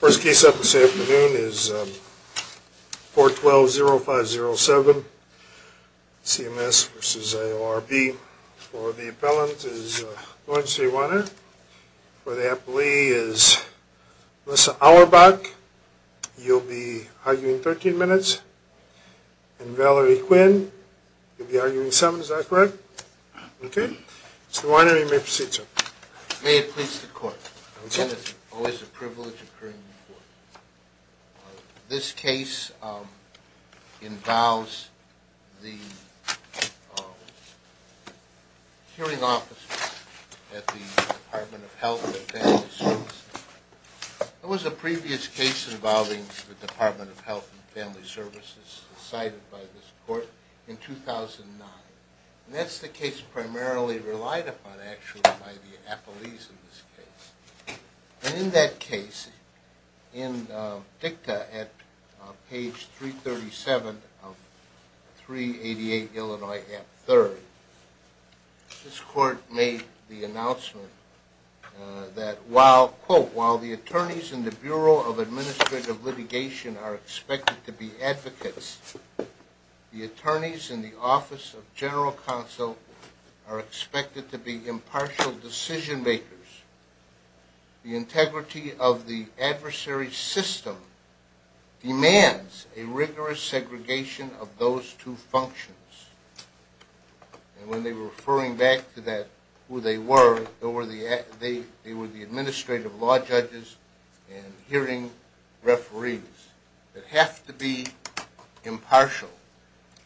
First case up this afternoon is 412-0507 CMS v. ILRB. For the appellant is Lawrence A. Weiner. For the appellee is Melissa Auerbach. You'll be arguing 13 minutes. And Valerie Quinn, you'll be arguing 7. Is that correct? Okay. Mr. Weiner, you may proceed, sir. May it please the court. It is always a privilege to occur in court. This case involves the hearing officers at the Department of Health and Family Services. There was a previous case involving the Department of Health and Family Services cited by this court in 2009. And that's the case primarily relied upon, actually, by the appellees in this case. And in that case, in dicta at page 337 of 388 Illinois Act III, this court made the announcement that while, quote, the attorneys in the Bureau of Administrative Litigation are expected to be advocates, the attorneys in the Office of General Counsel are expected to be impartial decision makers. The integrity of the adversary system demands a rigorous segregation of those two functions. And when they were referring back to that, who they were, they were the administrative law judges and hearing referees that have to be impartial.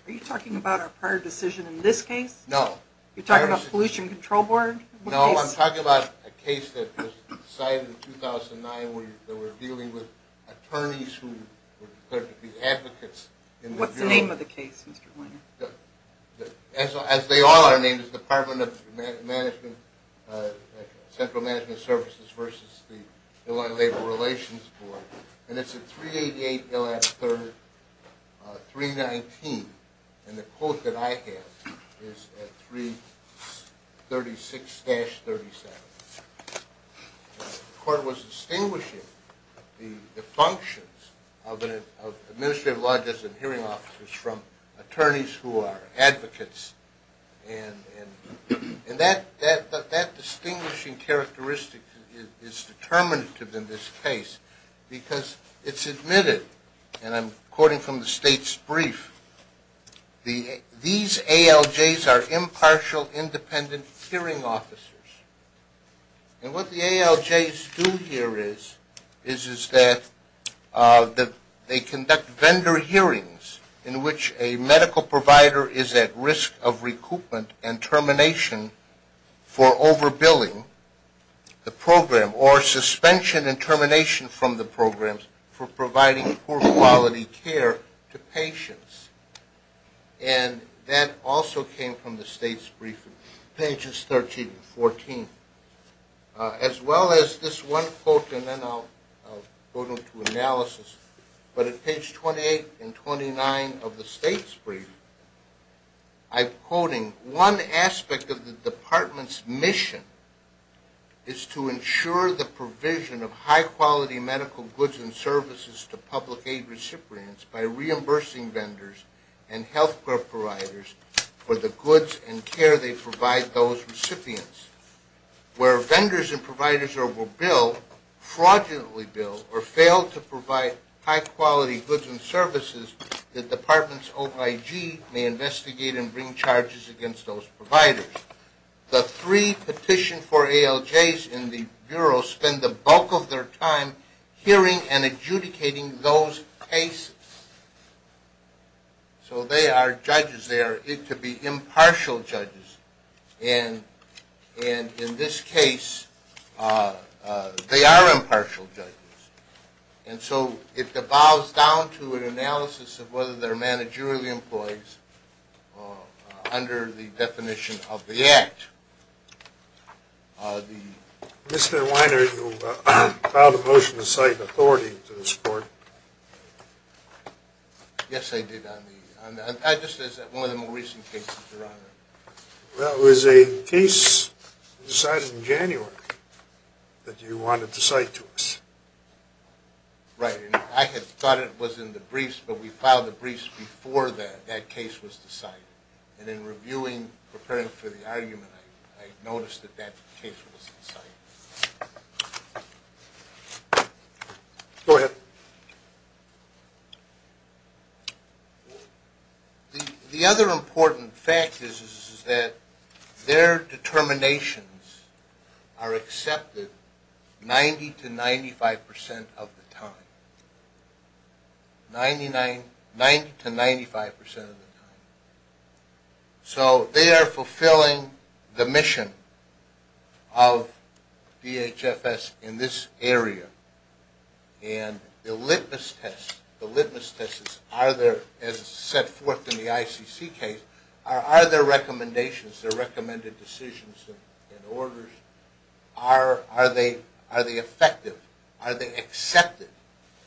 Are you talking about our prior decision in this case? No. You're talking about Pollution Control Board? No, I'm talking about a case that was decided in 2009 where they were dealing with attorneys who were declared to be advocates in the Bureau. What's the name of the case, Mr. Weiner? As they all are named, it's the Department of Management, Central Management Services versus the Illinois Labor Relations Board. And it's at 388 Illinois Act III, 319. And the quote that I have is at 336-37. The court was distinguishing the functions of administrative law judges and hearing officers from attorneys who are advocates. And that distinguishing characteristic is determinative in this case because it's admitted, and I'm quoting from the state's brief, these ALJs are impartial, independent hearing officers. And what the ALJs do here is that they conduct vendor hearings in which a medical provider is at risk of recoupment and termination for overbilling the program or suspension and termination from the program for providing poor quality care to patients. And that also came from the state's briefing, pages 13 and 14, as well as this one quote, and then I'll go into analysis. But at page 28 and 29 of the state's briefing, I'm quoting, one aspect of the department's mission is to ensure the provision of high quality medical goods and services to public aid recipients by reimbursing vendors and health care providers for the goods and care they provide those recipients. Where vendors and providers overbill, fraudulently bill, or fail to provide high quality goods and services, the department's OIG may investigate and bring charges against those providers. The three petition for ALJs in the Bureau spend the bulk of their time hearing and adjudicating those cases. So they are judges. They are to be impartial judges. And in this case, they are impartial judges. And so it devolves down to an analysis of whether they're managerial employees under the definition of the Act. Mr. Weiner, you filed a motion to cite authority to this court. Yes, I did. I just said it's one of the more recent cases, Your Honor. That was a case decided in January that you wanted to cite to us. Right. And I had thought it was in the briefs, but we filed the briefs before that case was decided. And in reviewing, preparing for the argument, I noticed that that case was cited. Go ahead. The other important fact is that their determinations are accepted 90 to 95 percent of the time. 90 to 95 percent of the time. So they are fulfilling the mission of DHFS in this area. And the litmus test, the litmus test, as set forth in the ICC case, are their recommendations, their recommended decisions and orders, are they effective? Are they accepted?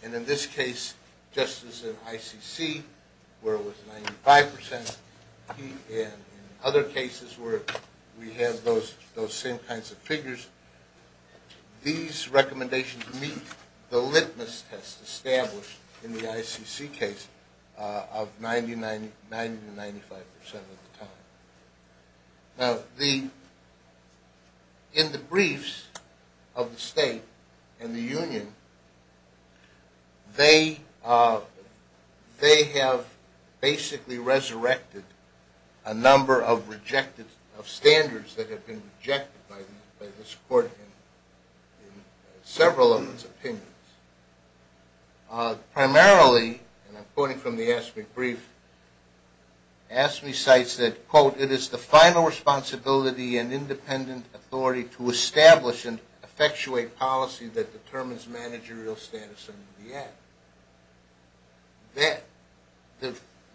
And in this case, just as in ICC, where it was 95 percent, and in other cases where we have those same kinds of figures, these recommendations meet the litmus test established in the ICC case of 90 to 95 percent of the time. Now, in the briefs of the state and the union, they have basically resurrected a number of standards that have been rejected by this court in several of its opinions. Primarily, and I'm quoting from the AFSCME brief, AFSCME cites that, quote, it is the final responsibility and independent authority to establish and effectuate policy that determines managerial status under the Act. That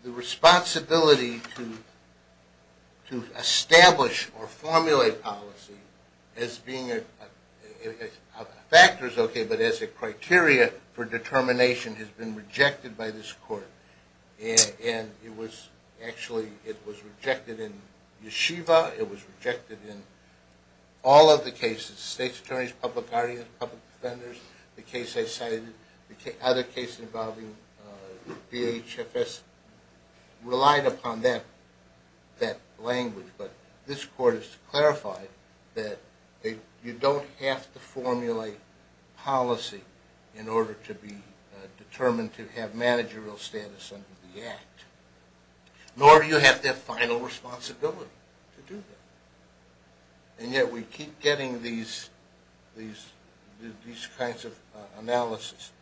the responsibility to establish or formulate policy as being a factor is okay, but as a criteria for determination has been rejected by this court. And it was actually, it was rejected in Yeshiva, it was rejected in all of the cases, state's attorneys, public guardians, public defenders, the case I cited, other cases involving DHFS relied upon that language. But this court has clarified that you don't have to formulate policy in order to be determined to have managerial status under the Act, nor do you have that final responsibility to do that. And yet we keep getting these kinds of analysis.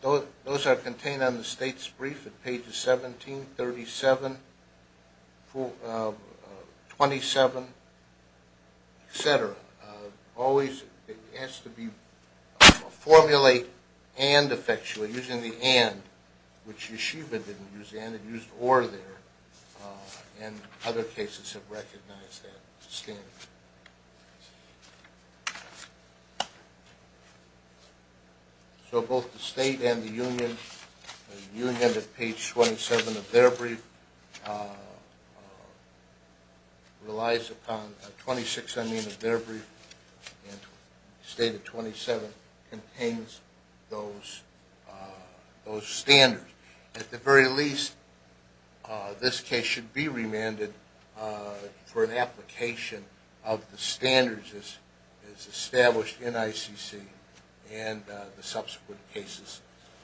Those are contained on the state's brief at pages 17, 37, 27, et cetera. But always it has to be formulate and effectuate, using the and, which Yeshiva didn't use the and, it used or there, and other cases have recognized that standard. So both the state and the union, the union at page 27 of their brief relies upon, 26, I mean, of their brief, and state of 27 contains those standards. At the very least, this case should be remanded for an application of the standards as established in ICC and the subsequent cases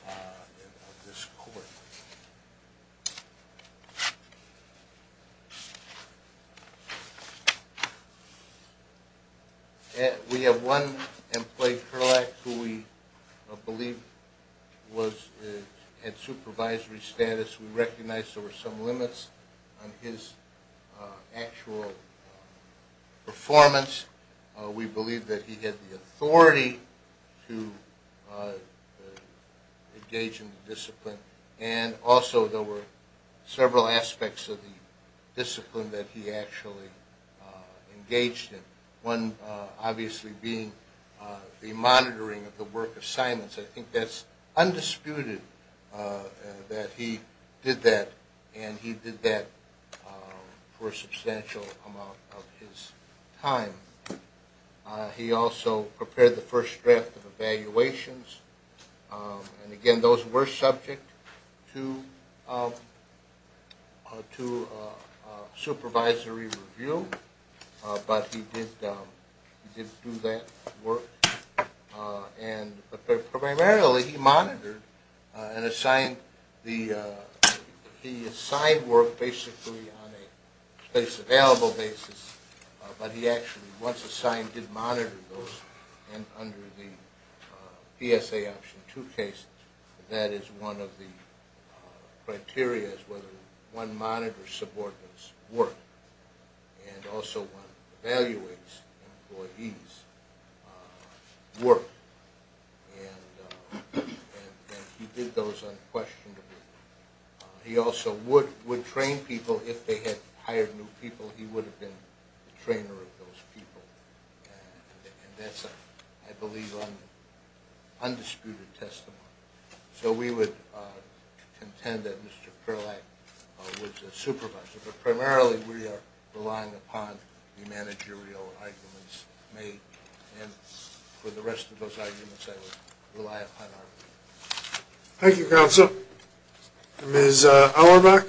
of this court. We have one employee, who we believe had supervisory status. We recognize there were some limits on his actual performance. We believe that he had the authority to engage in the discipline, and also there were several aspects of the discipline that he actually engaged in. One obviously being the monitoring of the work assignments. I think that's undisputed that he did that, and he did that for a substantial amount of his time. He also prepared the first draft of evaluations, and again those were subject to supervisory review, but he did do that work. Primarily he monitored and assigned work basically on a place available basis, but he actually once assigned did monitor those under the PSA Option 2 case. That is one of the criteria, whether one monitors subordinates' work, and also one evaluates employees' work, and he did those unquestionably. He also would train people if they had hired new people. He would have been the trainer of those people, and that's I believe an undisputed testimony. So we would contend that Mr. Perlack was a supervisor, but primarily we are relying upon the managerial arguments made, and for the rest of those arguments I would rely upon our own. Thank you, Counsel. Ms. Auerbach.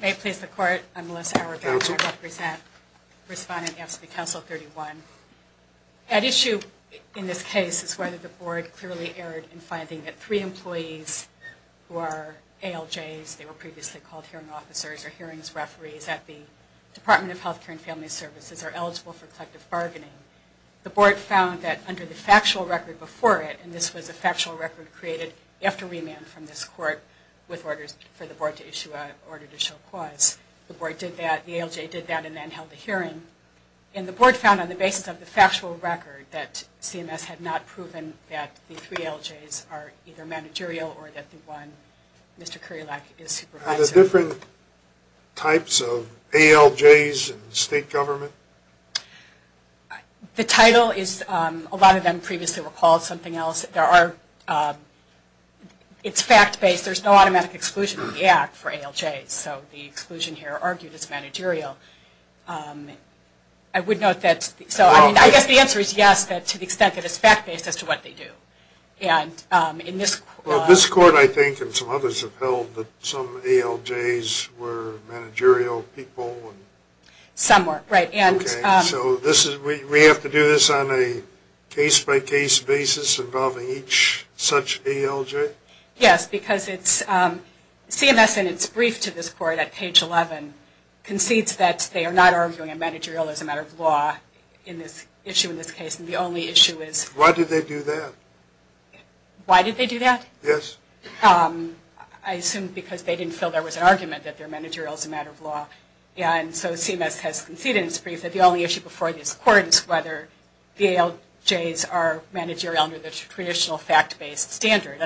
May it please the Court, I'm Melissa Auerbach. I represent Respondent AFSCME Council 31. At issue in this case is whether the Board clearly erred in finding that three employees who are ALJs, they were previously called hearing officers or hearings referees, at the Department of Health Care and Family Services are eligible for collective bargaining. The Board found that under the factual record before it, and this was a factual record created after remand from this Court with orders for the Board to issue an order to show cause, the Board did that, the ALJ did that, and then held a hearing, and the Board found on the basis of the factual record that CMS had not proven that the three ALJs are either managerial or that the one, Mr. Curielack, is supervisor. Are there different types of ALJs in state government? The title is, a lot of them previously were called something else. There are, it's fact-based. There's no automatic exclusion of the act for ALJs, so the exclusion here argued is managerial. I would note that, I guess the answer is yes, to the extent that it's fact-based as to what they do. This Court, I think, and some others have held that some ALJs were managerial people. Some were, right. So we have to do this on a case-by-case basis involving each such ALJ? Yes, because it's, CMS in its brief to this Court at page 11 concedes that they are not arguing managerial as a matter of law in this issue, in this case, and the only issue is... Why did they do that? Why did they do that? Yes. I assume because they didn't feel there was an argument that they're managerial as a matter of law, and so CMS has conceded in its brief that the only issue before this Court is whether the ALJs are managerial under the traditional fact-based standard,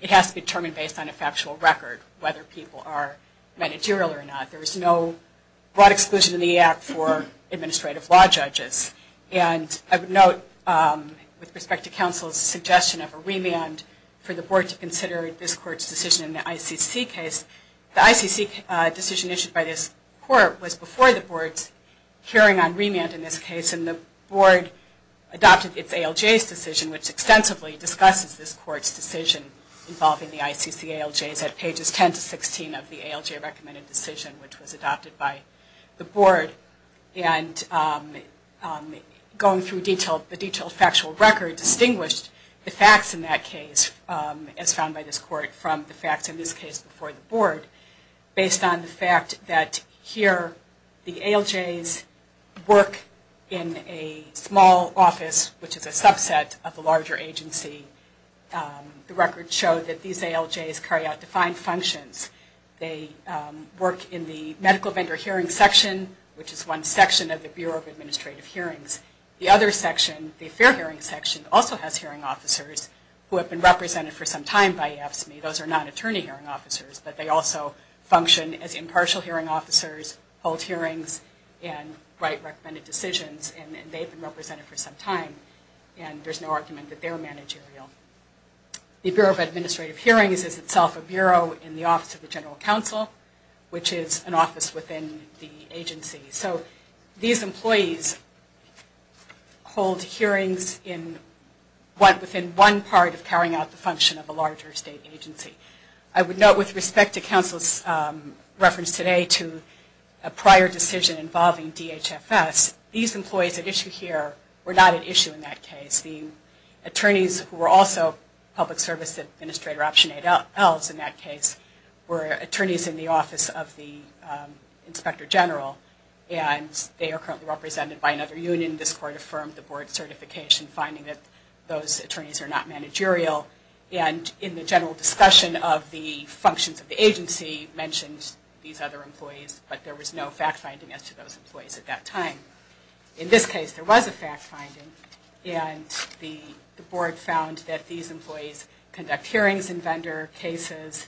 it has to be determined based on a factual record whether people are managerial or not. There is no broad exclusion in the act for administrative law judges. And I would note, with respect to counsel's suggestion of a remand for the Board to consider this Court's decision in the ICC case, the ICC decision issued by this Court was before the Board's hearing on remand in this case, and the Board adopted its ALJ's decision, which extensively discusses this Court's decision involving the ICC ALJs at pages 10 to 16 of the ALJ recommended decision, which was adopted by the Board. And going through the detailed factual record distinguished the facts in that case, as found by this Court, from the facts in this case before the Board, based on the fact that here the ALJs work in a small office, which is a subset of a larger agency. The records show that these ALJs carry out defined functions. They work in the medical vendor hearing section, which is one section of the Bureau of Administrative Hearings. The other section, the affair hearing section, also has hearing officers who have been represented for some time by AFSCME. Those are non-attorney hearing officers, but they also function as impartial hearing officers, hold hearings, and write recommended decisions, and they've been represented for some time, and there's no argument that they're managerial. The Bureau of Administrative Hearings is itself a bureau in the Office of the General Counsel, which is an office within the agency. So these employees hold hearings within one part of carrying out the function of a larger state agency. I would note with respect to counsel's reference today to a prior decision involving DHFS, these employees at issue here were not at issue in that case. The attorneys who were also public service administrator Option 8Ls in that case were attorneys in the Office of the Inspector General, and they are currently represented by another union. This court affirmed the board certification, finding that those attorneys are not managerial, and in the general discussion of the functions of the agency mentioned these other employees, but there was no fact-finding as to those employees at that time. In this case, there was a fact-finding, and the board found that these employees conduct hearings in vendor cases,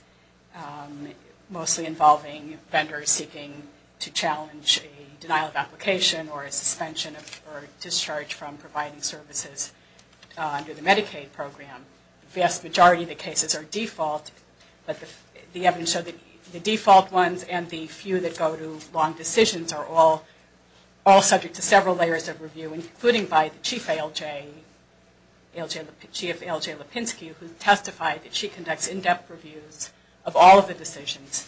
mostly involving vendors seeking to challenge a denial of application or a suspension or discharge from providing services under the Medicaid program. The vast majority of the cases are default, but the evidence showed that the default ones and the few that go to long decisions are all subject to several layers of review, including by the Chief L.J. Lipinski who testified that she conducts in-depth reviews of all of the decisions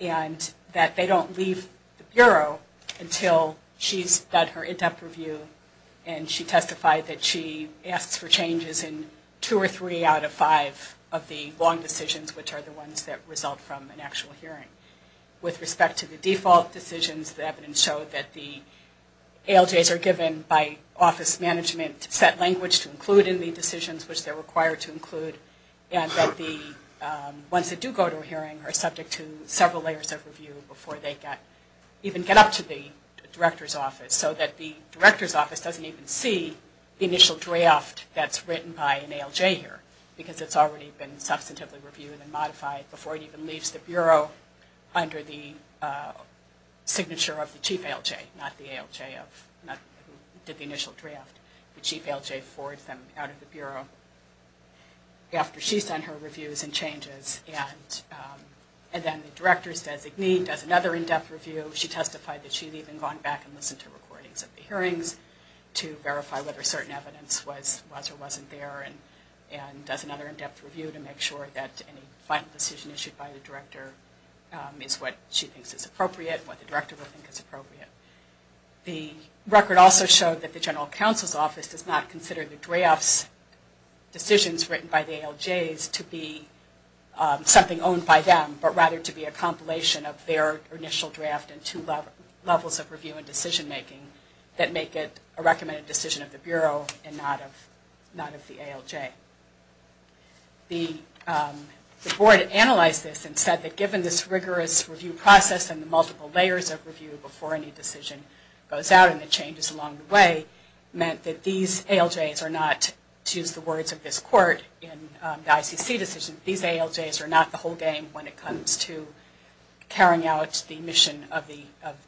and that they don't leave the Bureau until she's done her in-depth review and she testified that she asks for changes in two or three out of five of the long decisions, which are the ones that result from an actual hearing. With respect to the default decisions, the evidence showed that the ALJs are given by office management to set language to include in the decisions which they are required to include and that the ones that do go to a hearing are subject to several layers of review before they even get up to the Director's Office, so that the Director's Office doesn't even see the initial draft that's written by an ALJ here, because it's already been substantively reviewed and modified before it even leaves the Bureau under the signature of the Chief ALJ, not the ALJ who did the initial draft. The Chief ALJ forwards them out of the Bureau after she's done her reviews and changes and then the Director's designee does another in-depth review. She testified that she'd even gone back and listened to recordings of the hearings to verify whether certain evidence was or wasn't there and does another in-depth review to make sure that any final decision issued by the Director is what she thinks is appropriate and what the Director would think is appropriate. The record also showed that the General Counsel's Office does not consider the drafts, decisions written by the ALJs, to be something owned by them, but rather to be a compilation of their initial draft and two levels of review and decision-making that make it a recommended decision of the Bureau and not of the ALJ. The Board analyzed this and said that given this rigorous review process and the multiple layers of review before any decision goes out and the changes along the way, meant that these ALJs are not, to use the words of this Court in the ICC decision, these ALJs are not the whole game when it comes to carrying out the mission of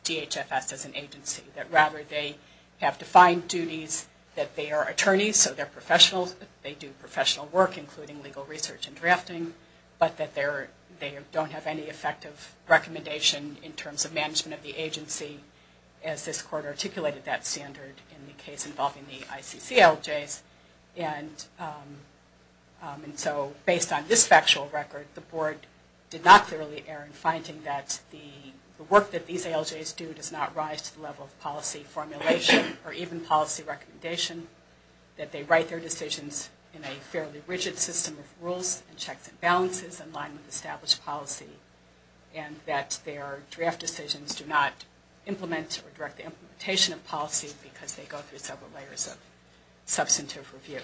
DHFS as an agency, that rather they have defined duties, that they are attorneys, so they're professionals, they do professional work including legal research and drafting, but that they don't have any effective recommendation in terms of management of the agency as this Court articulated that standard in the case involving the ICC ALJs. And so based on this factual record, the Board did not clearly err in finding that the work that these ALJs do does not rise to the level of policy formulation or even policy recommendation, that they write their decisions in a fairly rigid system of rules and checks and balances in line with established policy, and that their draft decisions do not implement or direct the implementation of policy because they go through several layers of substantive review.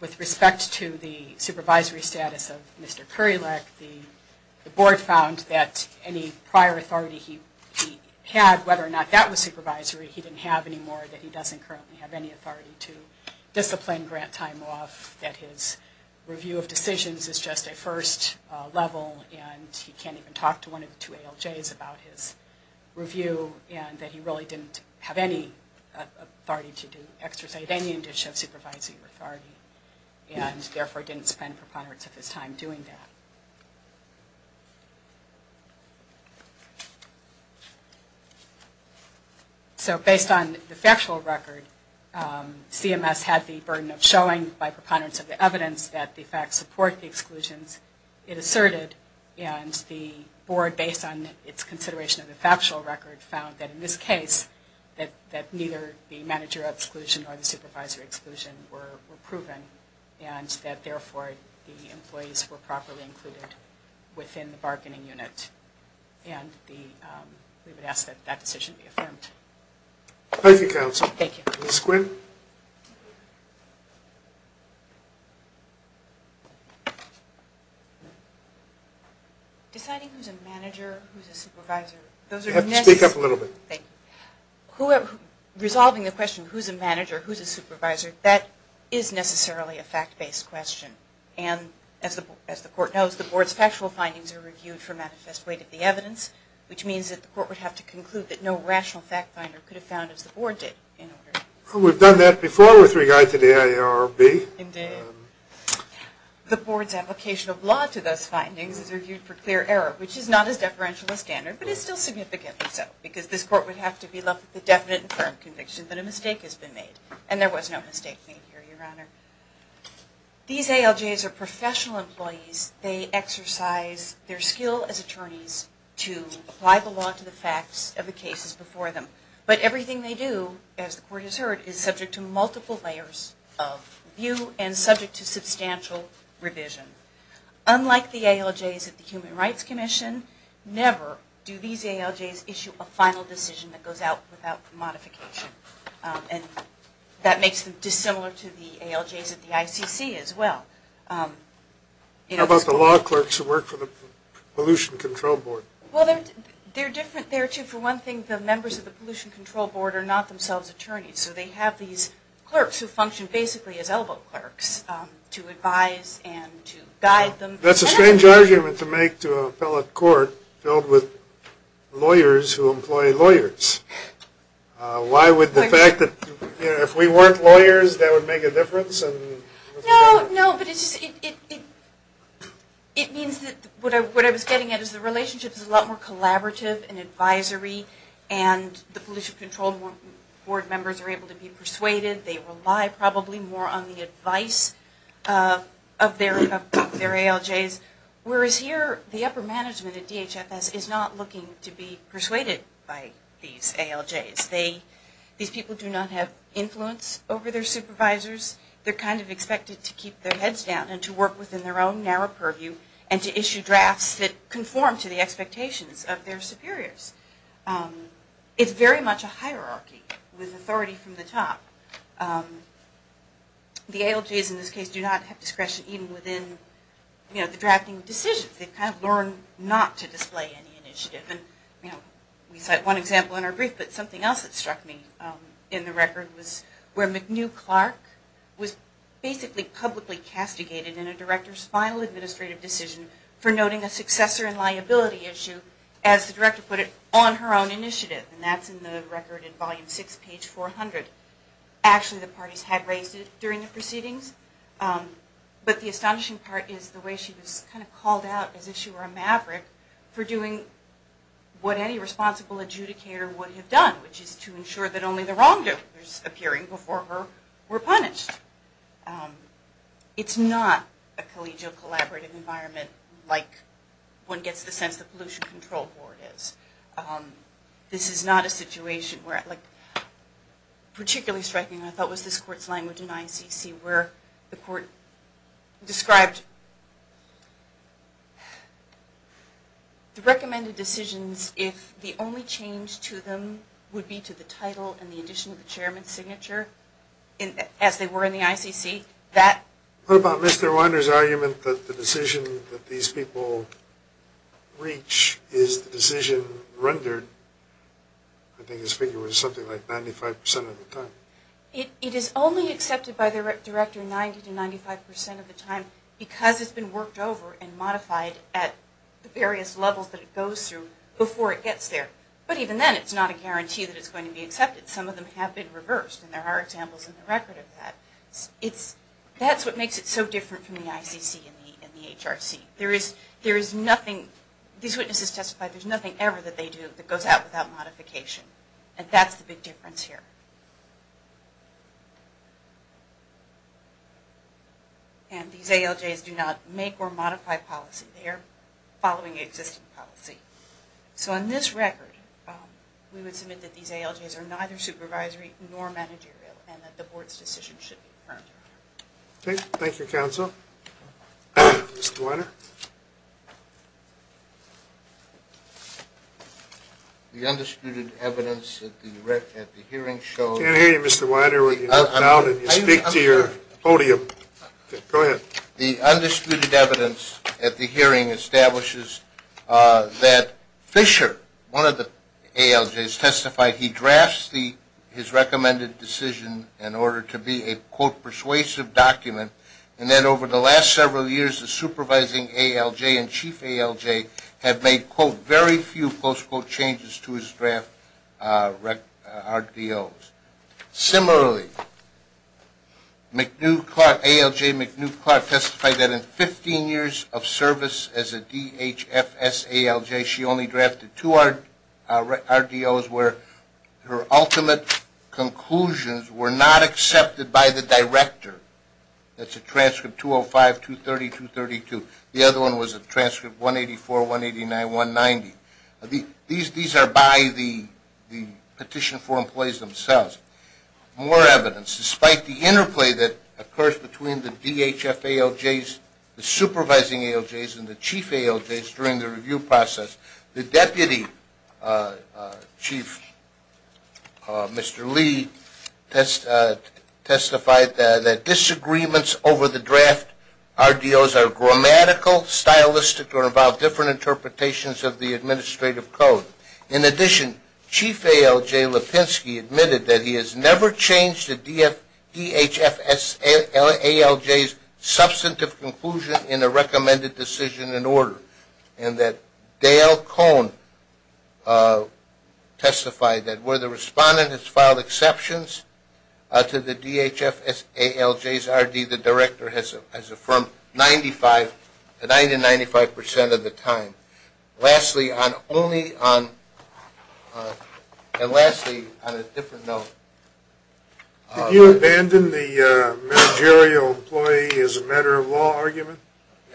With respect to the supervisory status of Mr. Kurilek, the Board found that any prior authority he had, whether or not that was supervisory, he didn't have anymore, that he doesn't currently have any authority to discipline grant time off, that his review of decisions is just a first level, and he can't even talk to one of the two ALJs about his review, and that he really didn't have any authority to exercise any indication of supervisory authority, and therefore didn't spend preponderance of his time doing that. So based on the factual record, CMS had the burden of showing by preponderance of the evidence that the facts support the exclusions it asserted, and the Board, based on its consideration of the factual record, found that in this case, that neither the manager exclusion or the supervisory exclusion were proven, and that therefore the employees were properly included within the bargaining unit, and we would ask that that decision be affirmed. Thank you, Counsel. Ms. Quinn? Deciding who's a manager, who's a supervisor, those are necessary... Speak up a little bit. Resolving the question, who's a manager, who's a supervisor, that is necessarily a fact-based question, and as the Court knows, the Board's factual findings are reviewed for manifest weight of the evidence, which means that the Court would have to conclude that no rational fact finder could have found as the Board did. We've done that before with regard to the AARB. The Board's application of law to those findings is reviewed for clear error, which is not as deferential as standard, but it's still significantly so, because this Court would have to be left with the definite and firm conviction that a mistake has been made, and there was no mistake made here, Your Honor. These ALJs are professional employees. They exercise their skill as attorneys to apply the law to the facts of the cases before them, but everything they do, as the Court has heard, is subject to multiple layers of review and subject to substantial revision. Unlike the ALJs at the Human Rights Commission, never do these ALJs issue a final decision that goes out without modification, and that makes them dissimilar to the ALJs at the ICC as well. How about the law clerks who work for the Pollution Control Board? Well, they're different there, too. For one thing, the members of the Pollution Control Board are not themselves attorneys, so they have these clerks who function basically as elbow clerks to advise and to guide them. That's a strange argument to make to an appellate court filled with lawyers who employ lawyers. Why would the fact that if we weren't lawyers that would make a difference? No. What I was getting at is the relationship is a lot more collaborative and advisory, and the Pollution Control Board members are able to be persuaded. They rely probably more on the advice of their ALJs, whereas here the upper management at DHFS is not looking to be persuaded by these ALJs. These people do not have influence over their supervisors. They're kind of expected to keep their heads down and to work within their own narrow purview and to issue drafts that conform to the expectations of their superiors. It's very much a hierarchy with authority from the top. The ALJs in this case do not have discretion even within the drafting decisions. They've kind of learned not to display any initiative. We cite one example in our brief, but something else that struck me in the record was where McNew Clark was basically publicly castigated in a director's final administrative decision for noting a successor and liability issue, as the director put it, on her own initiative. That's in the record in Volume 6, page 400. Actually the parties had raised it during the proceedings, but the astonishing part is the way she was kind of called out as if she were a maverick for doing what any responsible adjudicator would have done, which is to ensure that only the wrongdoers appearing before her were punished. It's not a collegial collaborative environment like one gets the sense the Pollution Control Board is. This is not a situation particularly striking, I thought, was this court's language in ICC where the court described the recommended decisions if the only change to them would be to the title and the addition of the chairman's signature, as they were in the ICC. What about Mr. Winder's argument that the decision that these people reach is the decision rendered, I think his figure was something like 95% of the time? It is only accepted by the director 90 to 95% of the time because it's been worked over and modified at the various levels that it goes through before it gets there. But even then, it's not a guarantee that it's going to be accepted. Some of them have been reversed, and there are examples in the record of that. That's what makes it so different from the ICC and the HRC. These witnesses testified there's nothing ever that they do that goes out without modification, and that's the big difference here. And these ALJs do not make or modify policy. They are following existing policy. So on this record, we would submit that these ALJs are neither supervisory nor managerial, and that the board's decision should be confirmed. Thank you, counsel. Mr. Winder? The undisputed evidence at the hearing shows that I can't hear you, Mr. Winder. The undisputed evidence at the hearing establishes that Fisher, one of the ALJs, testified he drafts his recommended decision in order to be a, quote, persuasive document, and then over the last several years, the supervising ALJ and chief ALJ have made, quote, very few, close quote, changes to his draft RDOs. Similarly, ALJ McNeil Clark testified that in 15 years of service as a DHFS ALJ, she only drafted two RDOs where her ultimate conclusions were not accepted by the director. That's a transcript 205, 230, 232. The other one was a transcript 184, 189, 190. These are by the petition for employees themselves. More evidence. Despite the interplay that occurs between the DHFA ALJs, the supervising ALJs, and the chief ALJs during the review process, the deputy chief, Mr. Lee, testified that disagreements over the draft RDOs are grammatical, stylistic, or involve different interpretations of the administrative code. In addition, chief ALJ Lipinski admitted that he has never changed a DHFS ALJ's substantive conclusion in a recommended decision in order, and that Dale Cohn testified that where the respondent has filed exceptions to the DHFS ALJ's RD, the director has affirmed 95% of the time. Lastly, on a different note. Did you abandon the managerial employee as a matter of law argument?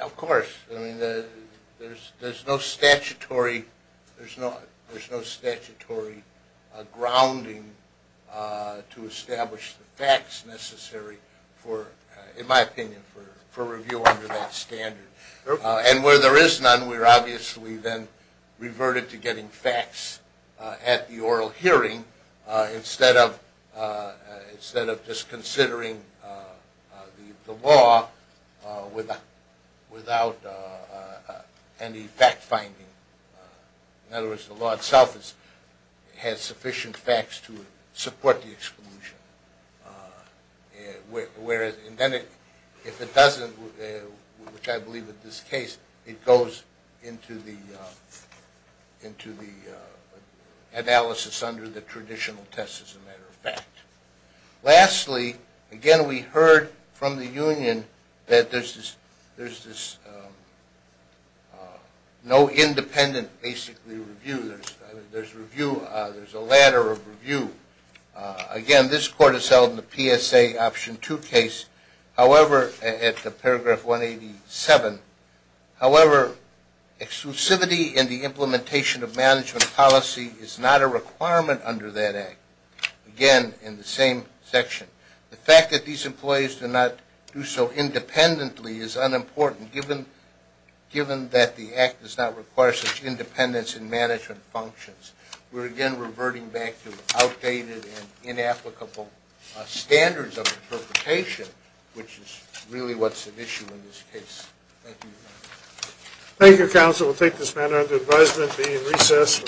Of course. There's no statutory grounding to establish the facts necessary for, in my opinion, for review under that standard. And where there is none, we're obviously then reverted to getting facts at the oral hearing instead of just considering the law without any fact-finding. In other words, the law itself has sufficient facts to support the exclusion. Whereas, if it doesn't, which I believe in this case, it goes into the analysis under the traditional test as a matter of fact. Lastly, again, we heard from the union that there's no independent, basically, review. There's a ladder of review. Again, this court has held in the PSA Option 2 case. However, at the paragraph 187, however, exclusivity in the implementation of management policy is not a requirement under that Act. Again, in the same section, the fact that these employees do not do so independently is unimportant, given that the Act does not require such independence in management functions. We're again reverting back to outdated and inapplicable standards of interpretation, which is really what's at issue in this case. Thank you. Thank you, Counsel. We'll take this matter under advisement and be in recess for a few moments.